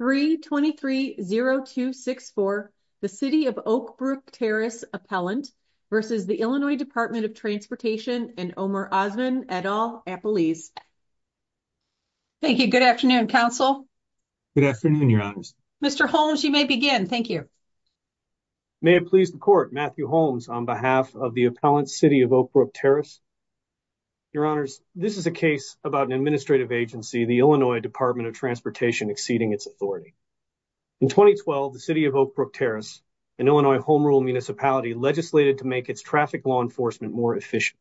3-23-0264, the City of Oakbrook Terrace Appellant v. Illinois Department of Transportation and Omer Osman, et al., Appellees. Thank you. Good afternoon, Counsel. Good afternoon, Your Honors. Mr. Holmes, you may begin. Thank you. May it please the Court, Matthew Holmes on behalf of the Appellant, City of Oakbrook Terrace. Your Honors, this is a case about an administrative agency, the Illinois Department of Transportation, exceeding its authority. In 2012, the City of Oakbrook Terrace, an Illinois Home Rule municipality, legislated to make its traffic law enforcement more efficient.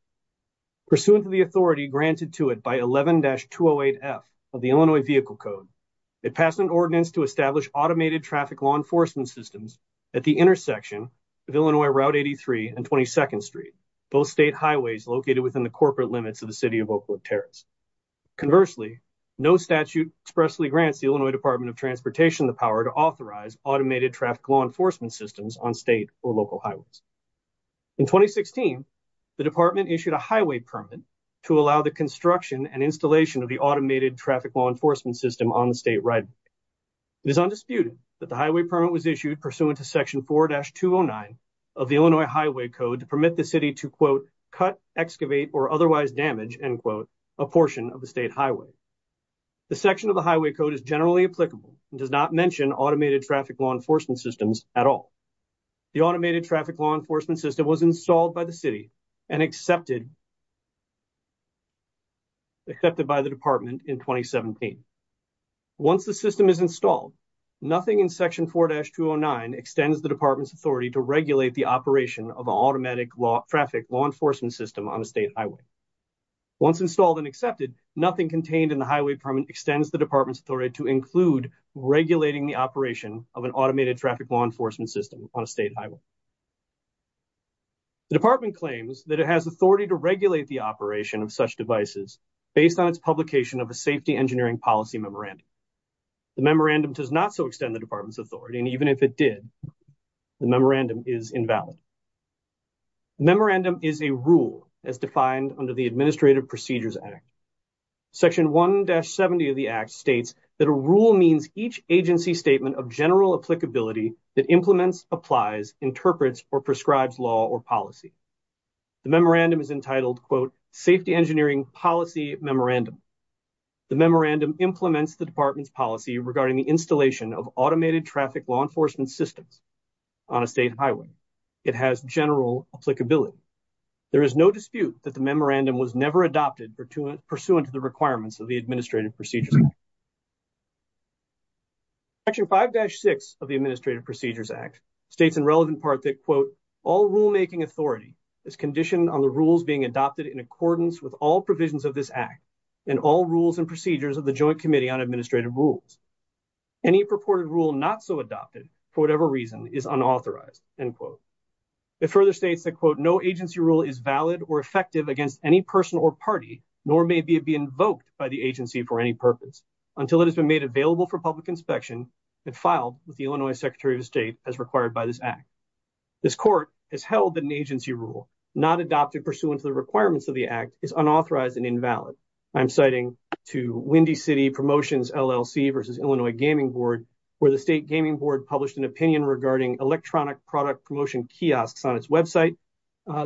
Pursuant to the authority granted to it by 11-208F of the Illinois Vehicle Code, it passed an ordinance to establish automated traffic law enforcement systems at the intersection of Illinois Route 83 and 22nd Street, both state highways located within the corporate limits of the City of Oakbrook Terrace. Conversely, no statute expressly grants the Illinois Department of Transportation the power to authorize automated traffic law enforcement systems on state or local highways. In 2016, the Department issued a highway permit to allow the construction and installation of the automated traffic law enforcement system on the state highway. It is undisputed that the highway permit was issued pursuant to Section 4-209 of the Illinois portion of the state highway. The section of the highway code is generally applicable and does not mention automated traffic law enforcement systems at all. The automated traffic law enforcement system was installed by the City and accepted by the Department in 2017. Once the system is installed, nothing in Section 4-209 extends the Department's authority to regulate the operation of an automatic traffic law enforcement system on a state highway. Once installed and accepted, nothing contained in the highway permit extends the Department's authority to include regulating the operation of an automated traffic law enforcement system on a state highway. The Department claims that it has authority to regulate the operation of such devices based on its publication of a Safety Engineering Policy Memorandum. The memorandum does not so extend the Department's authority, and even if it did, the memorandum is invalid. The memorandum is a rule as defined under the Administrative Procedures Act. Section 1-70 of the Act states that a rule means each agency statement of general applicability that implements, applies, interprets, or prescribes law or policy. The memorandum is entitled, quote, Safety Engineering Policy Memorandum. The memorandum implements the Department's policy regarding the installation of automated traffic law enforcement systems on a state highway. It has general applicability. There is no dispute that the memorandum was never adopted pursuant to the requirements of the Administrative Procedures Act. Section 5-6 of the Administrative Procedures Act states in relevant part that, quote, all rulemaking authority is conditioned on the rules being adopted in accordance with all provisions of this Act and all rules and procedures of the Joint Committee on Administrative Rules. Any purported rule not so adopted, for whatever reason, is unauthorized, end quote. It further states that, quote, no agency rule is valid or effective against any person or party nor may it be invoked by the agency for any purpose until it has been made available for public inspection and filed with the Illinois Secretary of State as required by this Act. This Court has held that an agency rule not adopted pursuant to the requirements of the Act is unauthorized and invalid. I'm citing to Windy City Promotions LLC v. Illinois Gaming Board where the state gaming board published an opinion regarding electronic product promotion kiosks on its website.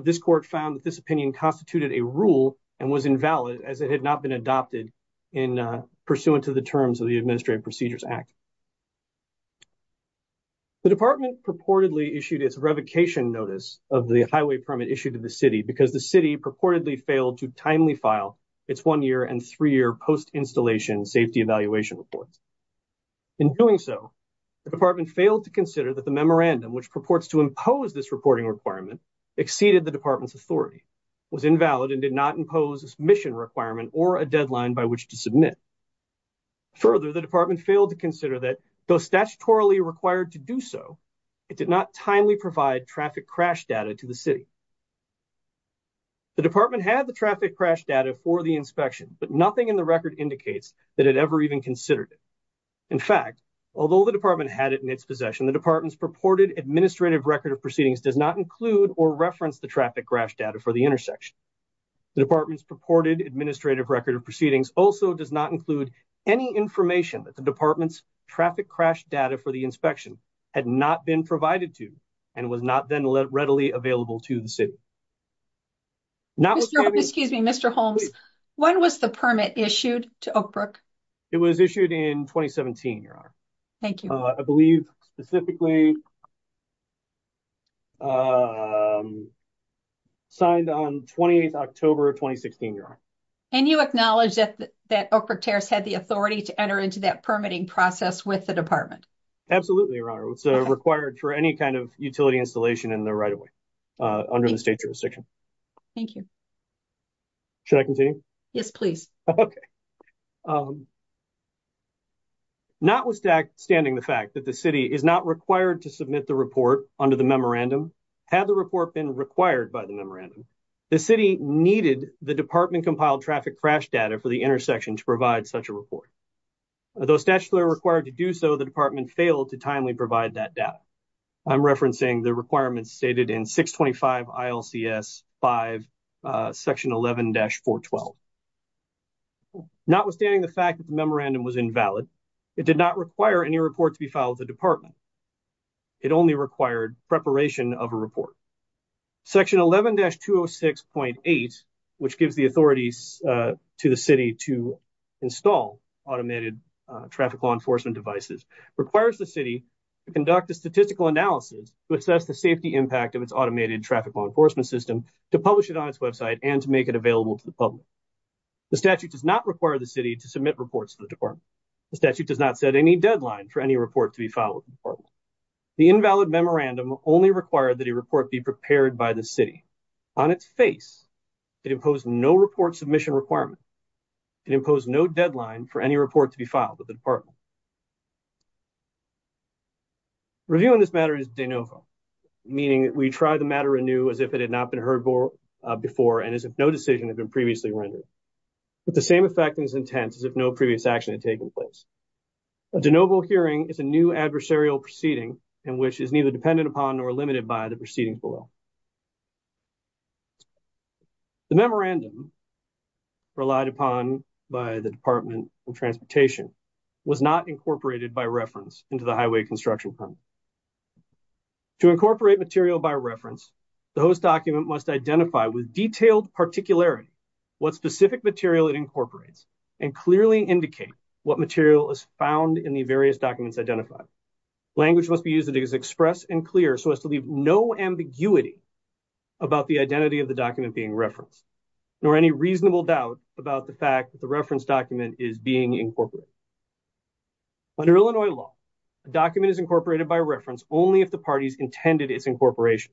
This Court found that this opinion constituted a rule and was invalid as it had not been adopted pursuant to the terms of the Administrative Procedures Act. The Department purportedly issued its revocation notice of the highway permit issued to the year and three-year post-installation safety evaluation reports. In doing so, the Department failed to consider that the memorandum, which purports to impose this reporting requirement, exceeded the Department's authority, was invalid, and did not impose a submission requirement or a deadline by which to submit. Further, the Department failed to consider that, though statutorily required to do so, it did not timely provide traffic crash data to the City. The Department had the traffic crash data for the inspection, but nothing in the record indicates that it ever even considered it. In fact, although the Department had it in its possession, the Department's purported administrative record of proceedings does not include or reference the traffic crash data for the intersection. The Department's purported administrative record of proceedings also does not include any information that the Department's traffic crash data for the inspection had not been provided to, and was not then readily available to, the City. Excuse me, Mr. Holmes, when was the permit issued to Oakbrook? It was issued in 2017, Your Honor. Thank you. I believe specifically signed on 28 October 2016, Your Honor. And you acknowledge that Oakbrook Terrace had the authority to enter into that permitting process with the Department? Absolutely, Your Honor. It was required for any kind of utility installation in the right-of-way under the state jurisdiction. Thank you. Should I continue? Yes, please. Notwithstanding the fact that the City is not required to submit the report under the memorandum, had the report been required by the memorandum, the City needed the Department compiled traffic crash data for the intersection to provide such a report. Though statutorily required to do so, the Department failed to timely provide that data. I'm referencing the requirements stated in 625 ILCS 5, section 11-412. Notwithstanding the fact that the memorandum was invalid, it did not require any report to be filed with the Department. It only required preparation of a report. Section 11-206.8, which gives the authority to the City to install automated traffic law enforcement devices, requires the City to conduct a statistical analysis to assess the safety impact of its automated traffic law enforcement system, to publish it on its website, and to make it available to the public. The statute does not require the City to submit reports to the Department. The statute does not set any deadline for any report to be filed with the Department. The invalid memorandum only required that a report be prepared by the City. On its face, it imposed no report submission requirement. It imposed no deadline for any report to be filed with the Department. Reviewing this matter is de novo, meaning we try the matter anew as if it had not been heard before and as if no decision had been previously rendered, with the same effect and intent as if no previous action had taken place. A de novo hearing is a new adversarial proceeding in which is neither dependent upon nor limited by the proceedings below. The memorandum relied upon by the Department of Transportation was not incorporated by reference into the Highway Construction Permit. To incorporate material by reference, the host document must identify with detailed is found in the various documents identified. Language must be used that is express and clear so as to leave no ambiguity about the identity of the document being referenced, nor any reasonable doubt about the fact that the reference document is being incorporated. Under Illinois law, a document is incorporated by reference only if the parties intended its incorporation.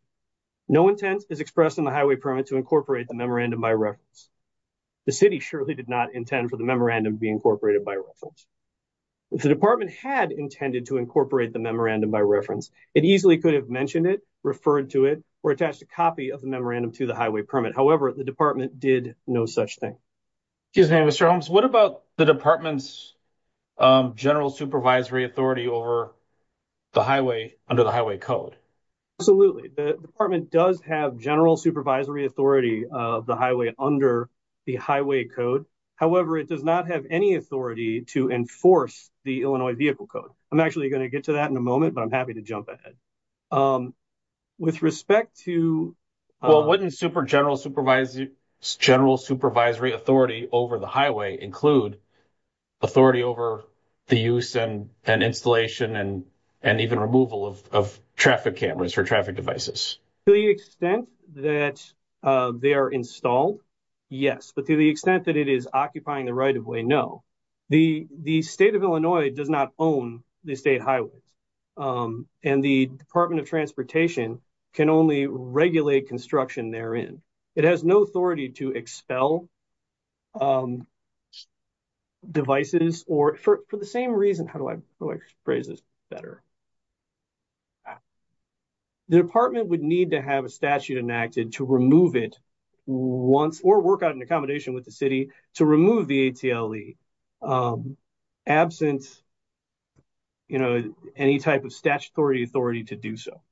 No intent is expressed in the Highway Permit to incorporate the memorandum by reference. The City surely did not intend for the memorandum to be incorporated by reference. If the Department had intended to incorporate the memorandum by reference, it easily could have mentioned it, referred to it, or attached a copy of the memorandum to the Highway Permit. However, the Department did no such thing. Excuse me, Mr. Holmes. What about the Department's general supervisory authority over the highway under the Highway Code? Absolutely. The Department does have general supervisory authority of the highway under the Highway Code. However, it does not have any authority to enforce the Illinois Vehicle Code. I'm actually going to get to that in a moment, but I'm happy to jump ahead. With respect to… Well, wouldn't super general supervisory authority over the highway include authority over the use and installation and even removal of traffic cameras or traffic devices? To the extent that they are installed, yes. But to the extent that it is occupying the right-of-way, no. The State of Illinois does not own the state highways, and the Department of Transportation can only regulate construction therein. It has no authority to expel devices or, for the same reason, how do I phrase this better? The Department would need to have a statute enacted to remove it once or work out an accommodation with the City to remove the ATLE, absent, you know, any type of statutory authority to do so.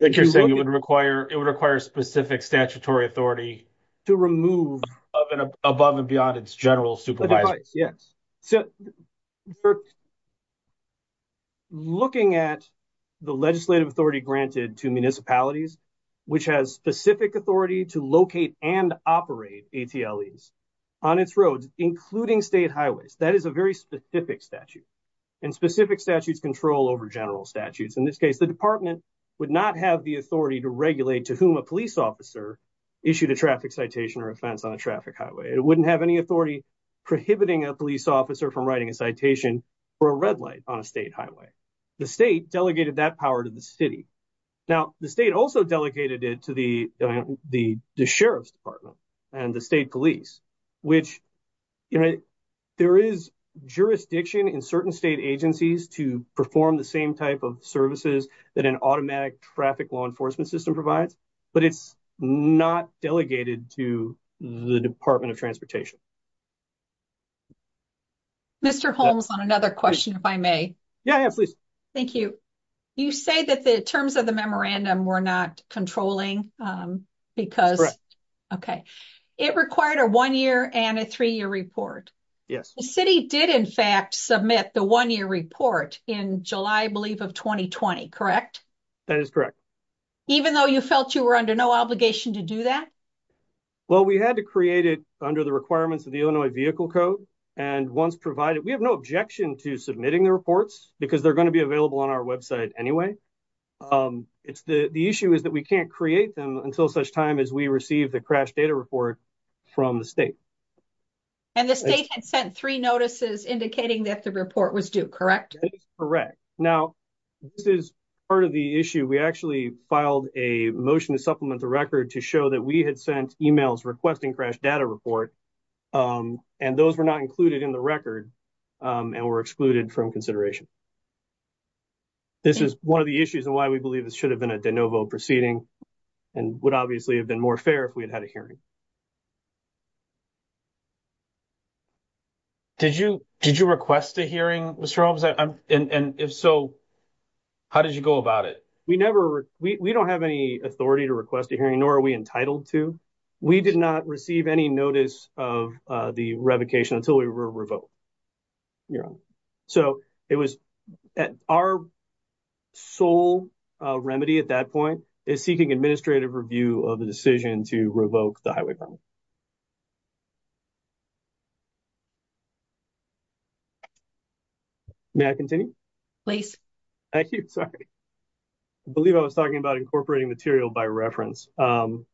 I think you're saying it would require specific statutory authority to remove above and beyond its general supervisor. Yes. So, looking at the legislative authority granted to municipalities, which has specific authority to locate and operate ATLEs on its roads, including state highways, that is a very specific statute, and specific statutes control over general statutes. In this case, the Department would not have the authority to regulate to whom a police officer issued a traffic citation or offense on a traffic highway. It wouldn't have any authority prohibiting a police officer from writing a citation for a red light on a state highway. The state delegated that power to the city. Now, the state also delegated it to the Sheriff's Department and the state police, which, you know, performs the same type of services that an automatic traffic law enforcement system provides, but it's not delegated to the Department of Transportation. Mr. Holmes, on another question, if I may. Yeah, please. Thank you. You say that the terms of the memorandum were not controlling because, okay, it required a one-year and a three-year report. Yes. The city did, in fact, submit the one-year report in July, I believe, of 2020, correct? That is correct. Even though you felt you were under no obligation to do that? Well, we had to create it under the requirements of the Illinois Vehicle Code. And once provided, we have no objection to submitting the reports because they're going to be available on our website anyway. The issue is that we can't create them until such time as we receive the crash data report from the state. And the state had sent three notices indicating that the report was due, correct? That is correct. Now, this is part of the issue. We actually filed a motion to supplement the record to show that we had sent emails requesting crash data report, and those were not included in the record and were excluded from consideration. This is one of the issues and why we believe this should have been a de novo proceeding and would obviously have been more fair if we had had a hearing. Did you request a hearing, Mr. Holmes? And if so, how did you go about it? We never, we don't have any authority to request a hearing, nor are we entitled to. We did not receive any notice of the revocation until we were revoked, Your Honor. So, it was, our sole remedy at that point is seeking administrative review of the decision to revoke the highway permit. May I continue? Thank you. Sorry. I believe I was talking about incorporating material by reference. The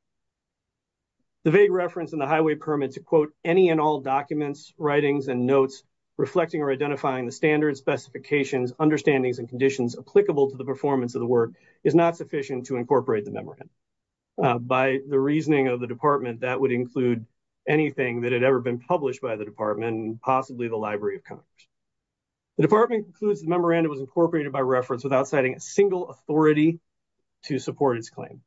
vague reference in the highway permit to quote any and all documents, writings, and notes reflecting or identifying the standards, specifications, understandings, and conditions applicable to the performance of the work is not sufficient to incorporate the memorandum. By the reasoning of the department, that would include anything that had ever been published by the department and possibly the Library of Congress. The department concludes the memorandum was incorporated by reference without citing a single authority to support its claim.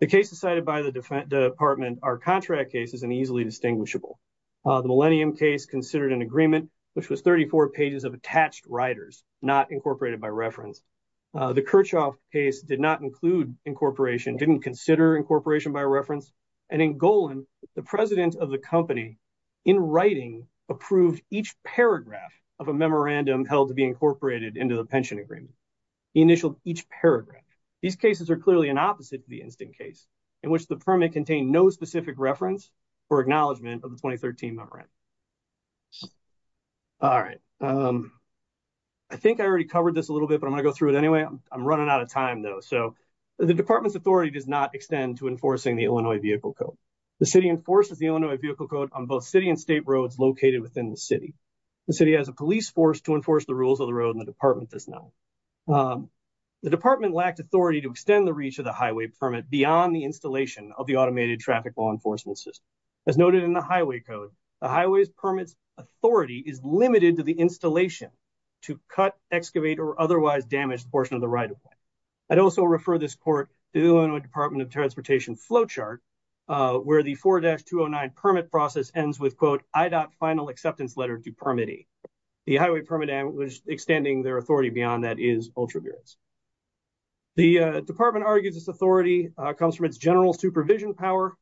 The cases cited by the department are contract cases and easily distinguishable. The Millennium case considered an agreement, which was 34 pages of attached writers, not incorporated by reference. The Kirchhoff case did not include incorporation, didn't consider incorporation by reference, and in Golan, the president of the company, in writing, approved each paragraph of a memorandum held to be incorporated into the pension agreement. He initialed each paragraph. These cases are clearly an opposite to the Instant case, in which the permit contained no specific reference for acknowledgement of the 2013 memorandum. All right. I think I already covered this a little bit, but I'm going to go through it anyway. I'm running out of time, though, so the department's authority does not extend to enforcing the Illinois Vehicle Code. The city enforces the Illinois Vehicle Code on both city and state roads located within the city. The city has a police force to enforce the rules of the road, and the department does not. The department lacked authority to extend the reach of the highway permit beyond the installation of the automated traffic law enforcement system. As noted in the highway code, the highway permit's authority is limited to the installation to cut, excavate, or otherwise damage the portion of the right of way. I'd also refer this court to the Illinois Department of Transportation flowchart, where the 4-209 permit process ends with, quote, I dot final acceptance letter to permitee. The highway permit was extending their authority beyond that is ultraviolence. The department argues this authority comes from its general supervision power,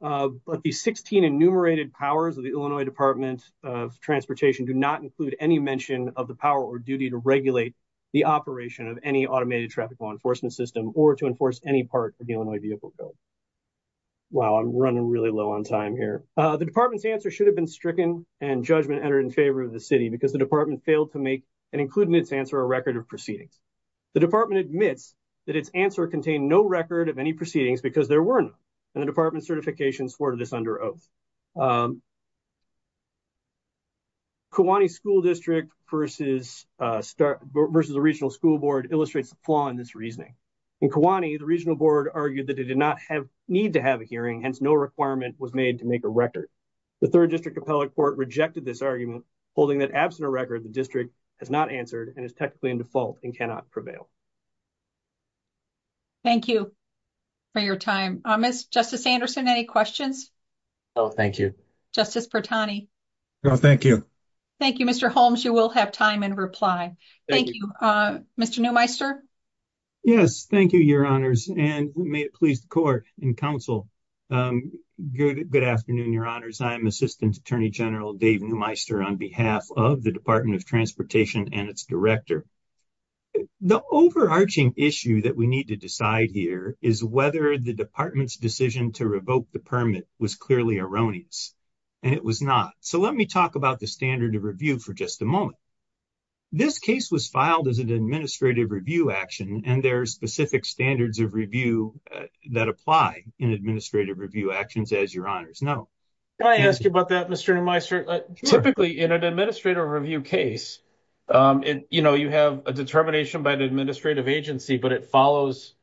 but the 16 enumerated powers of the Illinois Department of Transportation do not include any mention of the power or duty to regulate the operation of any automated traffic law enforcement system or to enforce any part of the Illinois Vehicle Code. Wow, I'm running really low on time here. The department's answer should have been stricken, and judgment entered in favor of the city because the department failed to make and include in its answer a record of proceedings. The department admits that its answer contained no record of any proceedings because there were none, and the department's certification supported this under oath. Kiwanee School District versus the regional school board illustrates the flaw in this reasoning. In Kiwanee, the regional board argued that it did not need to have a hearing, hence no requirement was made to make a record. The 3rd District Appellate Court rejected this argument, holding that absent a record, the district has not answered and is technically in default and cannot prevail. Thank you for your time. Justice Anderson, any questions? Thank you. Justice Pertani? No, thank you. Thank you, Mr. Holmes. You will have time in reply. Thank you. Mr. Neumeister? Yes, thank you, Your Honors, and may it please the court and counsel, good afternoon, Your Honors. I am Assistant Attorney General Dave Neumeister on behalf of the Department of Transportation and its director. The overarching issue that we need to decide here is whether the department's decision to revoke the permit was clearly erroneous, and it was not. So let me talk about the standard of review for just a moment. This case was filed as an administrative review action, and there are specific standards of review that apply in administrative review actions, as Your Honors know. Can I ask you about that, Mr. Neumeister? Typically, in an administrative review case, you know, you have a determination by an administrative agency, but it follows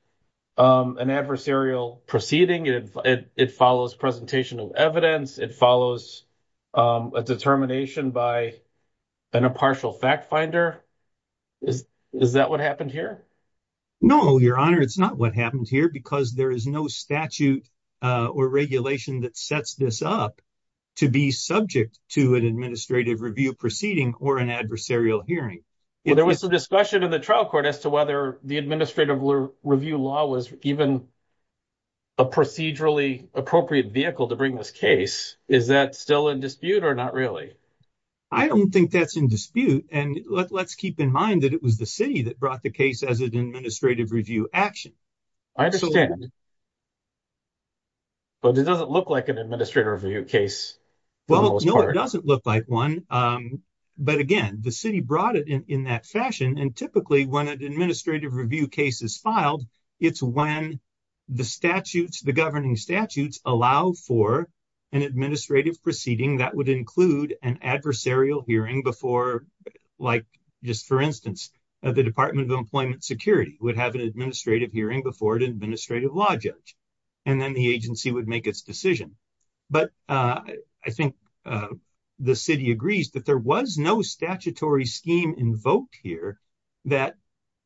an adversarial proceeding. It follows presentational evidence. It follows a determination by an impartial fact finder. Is that what happened here? No, Your Honor, it's not what happened here because there is no statute or regulation that sets this up to be subject to an administrative review proceeding or an adversarial hearing. There was some discussion in the trial court as to whether the administrative review law was even a procedurally appropriate vehicle to bring this case. Is that still in dispute or not really? I don't think that's in dispute, and let's keep in mind that it was the city that brought the case as an administrative review action. I understand, but it doesn't look like an administrative review case. Well, no, it doesn't look like one, but again, the city brought it in that fashion, and typically when an administrative review case is filed, it's when the statutes, the governing statutes, allow for an administrative proceeding that would include an adversarial hearing before, like just for instance, the Department of Employment Security would have an administrative hearing before an administrative law judge, and then the agency would make its decision. But I think the city agrees that there was no statutory scheme invoked here that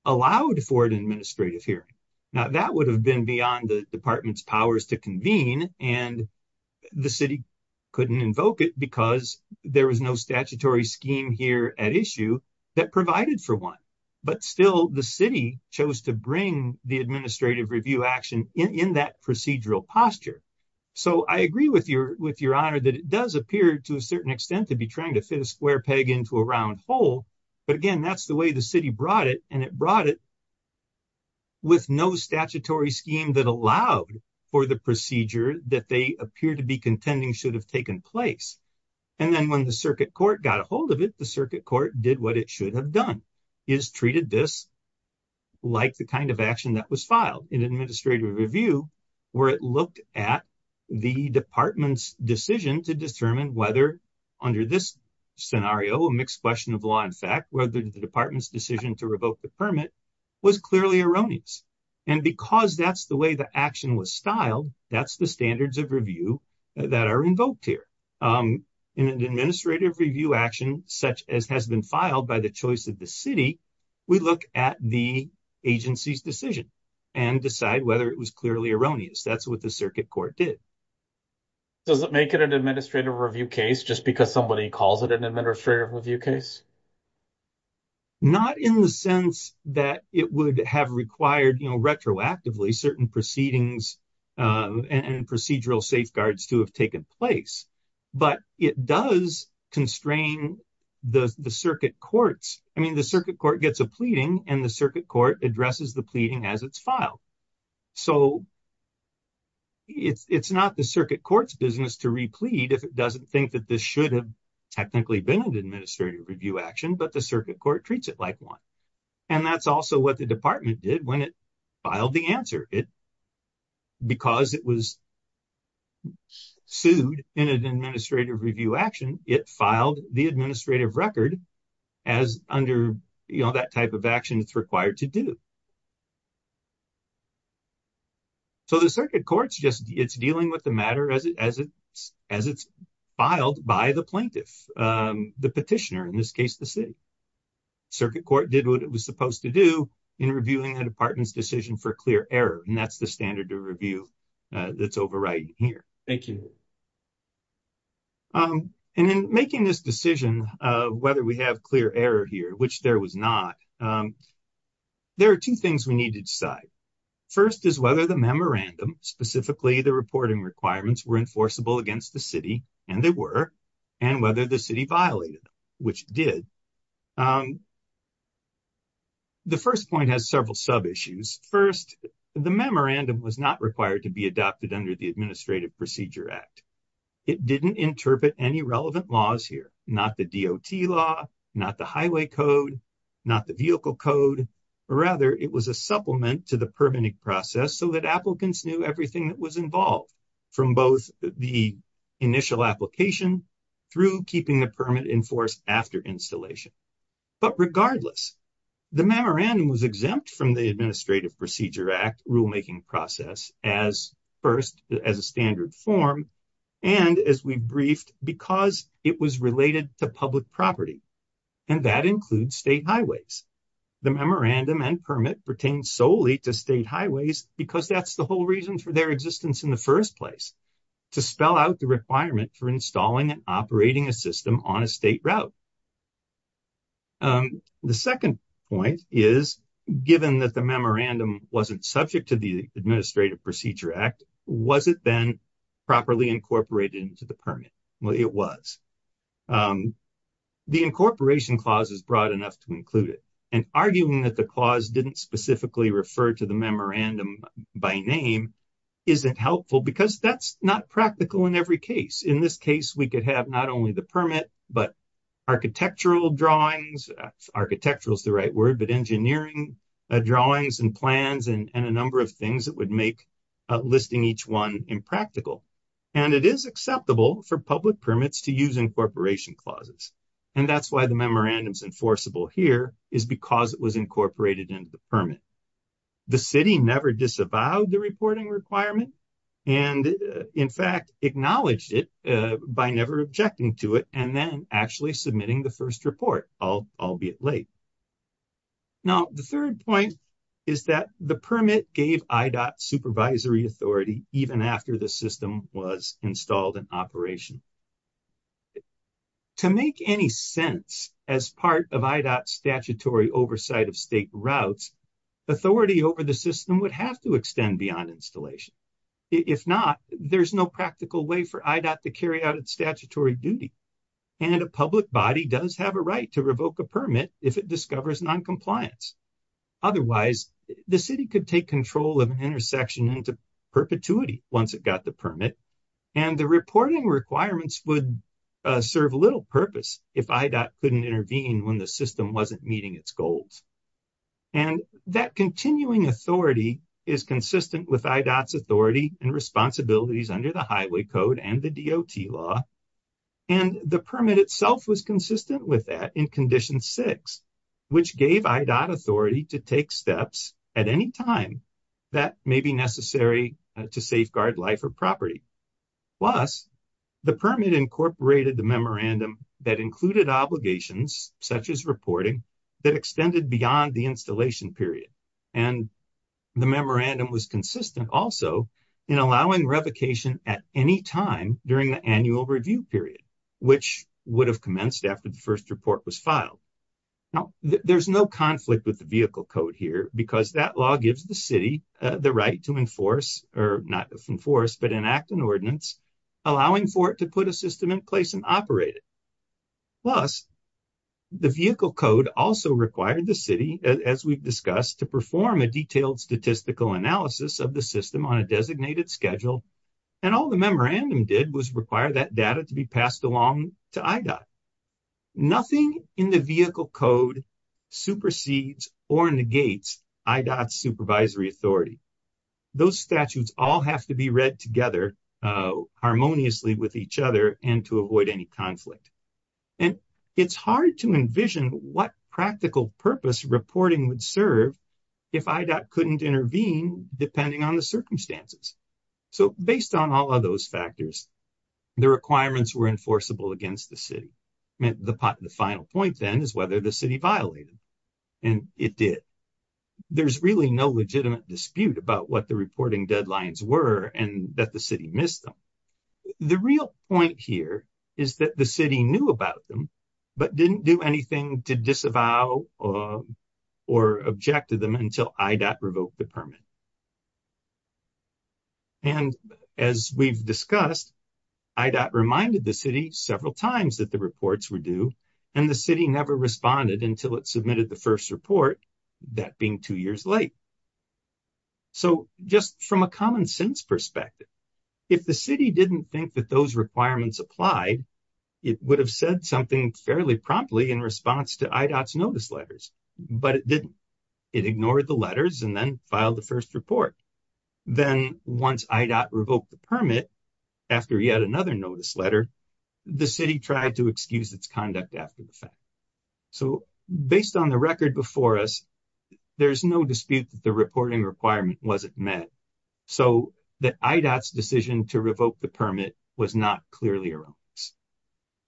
allowed for an administrative hearing. Now, that would have been beyond the department's powers to convene, and the city couldn't invoke it because there was no statutory scheme here at issue that provided for one. But still, the city chose to bring the administrative review action in that procedural posture. So I agree with your honor that it does appear to a certain extent to be trying to fit a square peg into a round hole, but again, that's the way the city brought it, and it brought it with no statutory scheme that allowed for the procedure that they appear to be contending should have taken place. And then when the circuit court got a hold of it, the circuit court did what it should have done, is treated this like the kind of action that was filed in administrative review, where it looked at the department's decision to determine whether, under this scenario, a mixed question of law and fact, whether the department's decision to revoke the permit was clearly erroneous. And because that's the way the action was styled, that's the standards of review that are invoked here. In an administrative review action such as has been filed by the choice of the city, we look at the agency's decision and decide whether it was clearly erroneous. That's what the circuit court did. Does it make it an administrative review case just because somebody calls it an administrative review case? Not in the sense that it would have required, you know, retroactively certain proceedings and procedural safeguards to have taken place. But it does constrain the circuit court's, I mean, the circuit court gets a pleading and the circuit court addresses the pleading as it's filed. So it's not the circuit court's business to replete if it doesn't think that this should have technically been an administrative review action, but the circuit court treats it like one. And that's also what the department did when it filed the answer. It, because it was sued in an administrative review action, it filed the administrative record as under, you know, that type of action it's required to do. So the circuit court's just, it's dealing with the matter as it's filed by the plaintiff, the petitioner, in this case, the city. Circuit court did what it was supposed to do in reviewing the department's decision for clear error. And that's the standard of review that's overriding here. Thank you. And in making this decision of whether we have clear error here, which there was not, there are two things we need to decide. First is whether the memorandum, specifically the reporting requirements, were enforceable against the city, and they were, and whether the city violated them, which it did. The first point has several sub-issues. First, the memorandum was not required to be adopted under the Administrative Procedure Act. It didn't interpret any relevant laws here. Not the DOT law, not the highway code, not the vehicle code, but rather it was a supplement to the permitting process so that applicants knew everything that was involved, from both the initial application through keeping the permit enforced after installation. But regardless, the memorandum was exempt from the Administrative Procedure Act rulemaking process as first, as a standard form, and as we briefed, because it was related to public property, and that includes state highways. The memorandum and permit pertain solely to state highways because that's the whole reason for their existence in the first place, to spell out the requirement for installing and operating a system on a state route. The second point is, given that the memorandum wasn't subject to the Administrative Procedure Act, was it then properly incorporated into the permit? Well, it was. The incorporation clause is broad enough to include it, and arguing that the clause didn't specifically refer to the memorandum by name isn't helpful because that's not practical in every case. In this case, we could have not only the permit, but architectural drawings, architectural is the right word, but engineering drawings and plans and a number of things that would make listing each one impractical. And it is acceptable for public permits to use incorporation clauses, and that's why the memorandum is enforceable here, is because it was incorporated into the permit. The city never disavowed the reporting requirement and, in fact, acknowledged it by never objecting to it and then actually submitting the first report, albeit late. Now, the third point is that the permit gave IDOT supervisory authority even after the system was installed in operation. To make any sense, as part of IDOT statutory oversight of state routes, authority over the system would have to extend beyond installation. If not, there's no practical way for IDOT to carry out its statutory duty, and a public body does have a right to revoke a permit if it discovers noncompliance. Otherwise, the city could take control of an intersection into perpetuity once it got the permit, and the reporting requirements would serve little purpose if IDOT couldn't intervene when the system wasn't meeting its goals. And that continuing authority is consistent with IDOT's authority and responsibilities under the Highway Code and the DOT law, and the permit itself was consistent with that in Condition 6, which gave IDOT authority to take steps at any time that may be necessary to safeguard life or property. Plus, the permit incorporated the memorandum that included obligations, such as reporting, that extended beyond the installation period, and the memorandum was consistent also in allowing revocation at any time during the annual review period, which would have commenced after the first report was filed. Now, there's no conflict with the Vehicle Code here, because that law gives the city the right to enforce, or not enforce, but enact an ordinance, allowing for it to put a system in place and operate it. Plus, the Vehicle Code also required the city, as we've discussed, to perform a detailed statistical analysis of the system on a designated schedule, and all the memorandum did was require that data to be passed along to IDOT. Nothing in the Vehicle Code supersedes or negates IDOT's supervisory authority. Those statutes all have to be read together harmoniously with each other and to avoid any conflict, and it's hard to envision what practical purpose reporting would serve if IDOT couldn't intervene, depending on the circumstances. So, based on all of those factors, the requirements were enforceable against the city. The final point, then, is whether the city violated, and it did. There's really no legitimate dispute about what the reporting deadlines were and that the city missed them. The real point here is that the city knew about them, but didn't do anything to disavow or object to them until IDOT revoked the permit. And, as we've discussed, IDOT reminded the city several times that the reports were due, and the city never responded until it submitted the first report, that being two years late. So, just from a common sense perspective, if the city didn't think that those requirements applied, it would have said something fairly promptly in response to IDOT's notice letters, but it didn't. It ignored the letters and then filed the first report. Then, once IDOT revoked the permit, after yet another notice letter, the city tried to excuse its conduct after the fact. So, based on the record before us, there's no dispute that the reporting requirement wasn't met, so that IDOT's decision to revoke the permit was not clearly erroneous.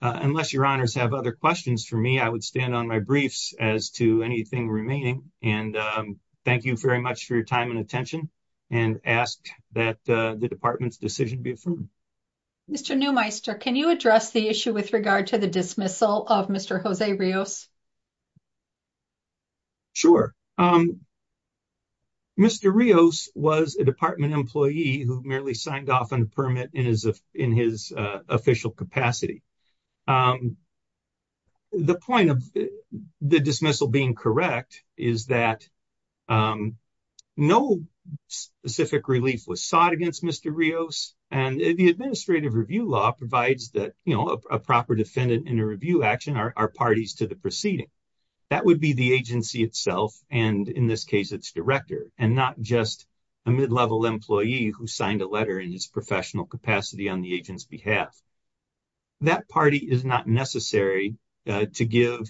Unless your honors have other questions for me, I would stand on my briefs as to anything remaining, and thank you very much for your time and attention, and ask that the department's decision be affirmed. Mr. Neumeister, can you address the issue with regard to the dismissal of Mr. Jose Rios? Sure. Mr. Rios was a department employee who merely signed off on a permit in his official capacity. The point of the dismissal being correct is that no specific relief was sought against Mr. Rios, and the administrative review law provides that, you know, a proper defendant in a review action are parties to the proceeding. That would be the agency itself, and in this case, its director, and not just a mid-level employee who signed a letter in his professional capacity on the agent's behalf. That party is not necessary to give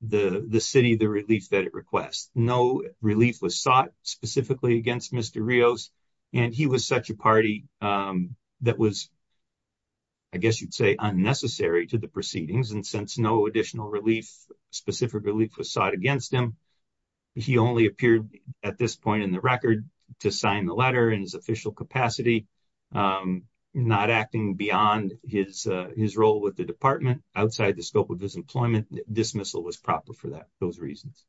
the city the relief that it requests. No relief was sought specifically against Mr. Rios, and he was such a party that was, I guess you'd say, unnecessary to the proceedings, and since no additional relief, specific relief was sought against him, he only appeared at this point in the record to sign the letter in his official capacity, not acting beyond his role with the department, outside the scope of his employment. Dismissal was proper for those reasons.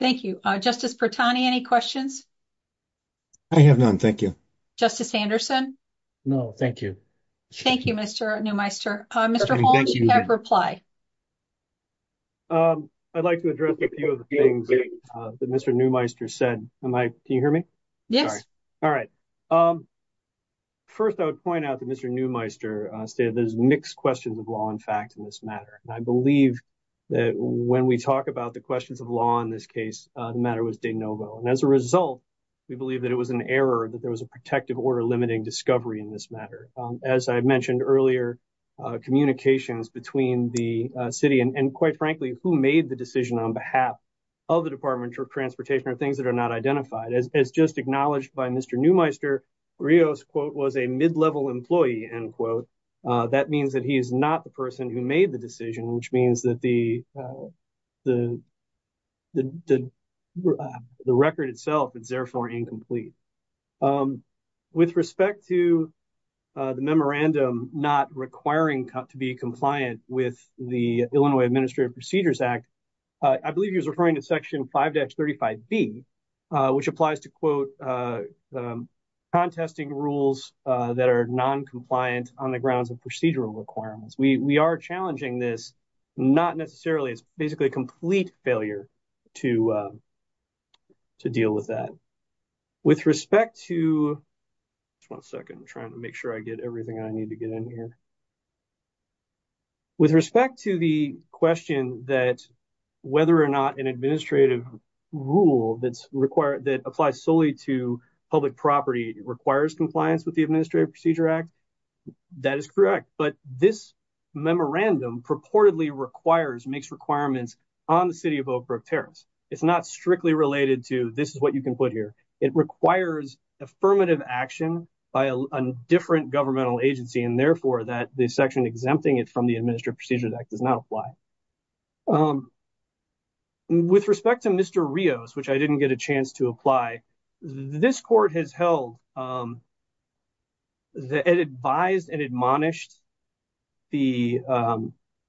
Thank you. Justice Pertani, any questions? I have none. Thank you. Justice Anderson? No, thank you. Thank you, Mr. Neumeister. Mr. Hall, do you have a reply? I'd like to address a few of the things that Mr. Neumeister said. Can you hear me? Yes. All right. First, I would point out that Mr. Neumeister stated there's mixed questions of law and fact in this matter, and I believe that when we talk about the questions of law in this case, the matter was de novo, and as a result, we believe that it was an error that there was a protective order limiting discovery in this matter. As I mentioned earlier, communications between the city and, quite frankly, who made the decision on behalf of the Department of Transportation are things that are not identified. As just acknowledged by Mr. Neumeister, Rios, quote, was a mid-level employee, end quote. That means that he is not the person who made the decision, which means that the record itself is therefore incomplete. With respect to the memorandum not requiring to be compliant with the Illinois Administrative Procedures Act, I believe he was referring to section 5-35B, which applies to, quote, contesting rules that are noncompliant on the grounds of procedural requirements. We are challenging this, not necessarily, it's basically a complete failure to deal with that. With respect to, just one second, I'm trying to make sure I get everything I need to get in here. With respect to the question that whether or not an administrative rule that applies solely to public property requires compliance with the Administrative Procedures Act, that is correct. But this memorandum purportedly requires, makes requirements on the city of Oak Brook Terrace. It's not strictly related to, this is what you can put here. It requires affirmative action by a different governmental agency, and therefore, that section exempting it from the Administrative Procedures Act does not apply. With respect to Mr. Rios, which I didn't get a chance to apply, this court has held, it advised and admonished the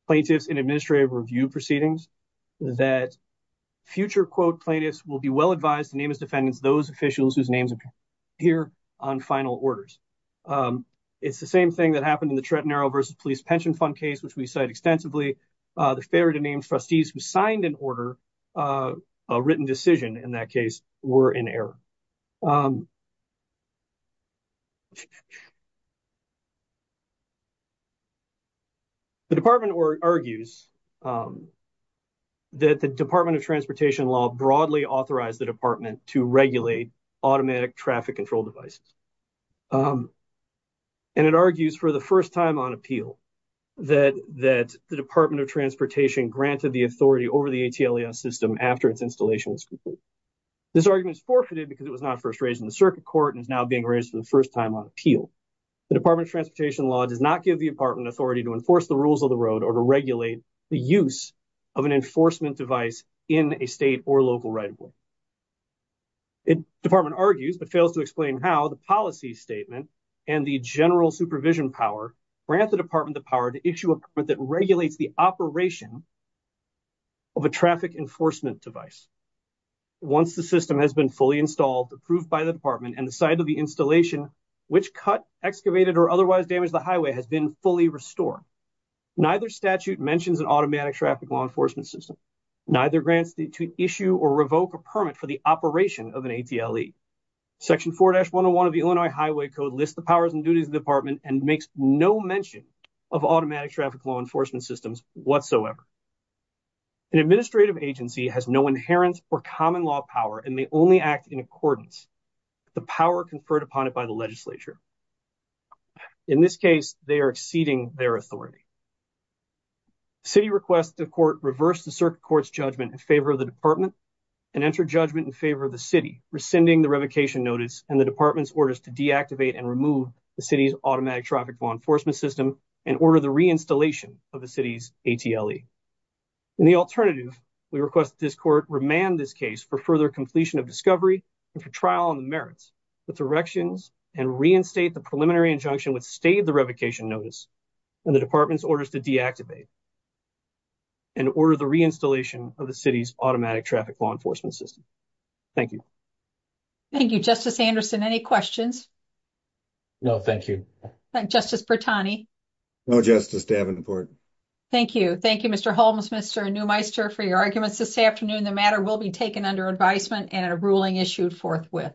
plaintiffs in administrative review proceedings that future, quote, plaintiffs will be well advised to name as defendants those officials whose names appear here on final orders. It's the same thing that happened in the Trenton Arrow versus Police Pension Fund case, which we cite extensively. The failure to name trustees who signed an order, a written decision in that case, were in error. The Department argues that the Department of Transportation Law broadly authorized the Department to regulate automatic traffic control devices. And it argues for the first time on appeal that the Department of Transportation granted the authority over the ATLAS system after its installation was completed. This argument is forfeited because it was not first raised in the circuit court and is now being raised for the first time on appeal. The Department of Transportation Law does not give the Department authority to enforce the rules of the road or to regulate the use of an enforcement device in a state or local right of way. The Department argues but fails to explain how the policy statement and the general supervision power grant the Department the power to issue a permit that regulates the operation of a traffic enforcement device. Once the system has been fully installed, approved by the Department, and the site of the installation, which cut, excavated, or otherwise damaged the highway has been fully restored. Neither statute mentions an automatic traffic law enforcement system. Neither grants to issue or revoke a permit for the operation of an ATLE. Section 4-101 of the Illinois Highway Code lists the powers and duties of the Department and makes no mention of automatic traffic law enforcement systems whatsoever. An administrative agency has no inherent or common law power and may only act in accordance with the power conferred upon it by the legislature. In this case, they are exceeding their authority. The City requests the Court reverse the Circuit Court's judgment in favor of the Department and enter judgment in favor of the City, rescinding the revocation notice and the Department's orders to deactivate and remove the City's automatic traffic law enforcement system and order the reinstallation of the City's ATLE. In the alternative, we request that this Court remand this case for further completion of discovery and for trial on the merits, with erections, and reinstate the preliminary injunction withstave the revocation notice and the Department's orders to deactivate and order the reinstallation of the City's automatic traffic law enforcement system. Thank you. Thank you. Justice Anderson, any questions? No, thank you. Justice Bertani? No, Justice. Thank you. Thank you, Mr. Holmes, Mr. Neumeister, for your arguments this afternoon. The matter will be taken under advisement and a ruling issued forthwith.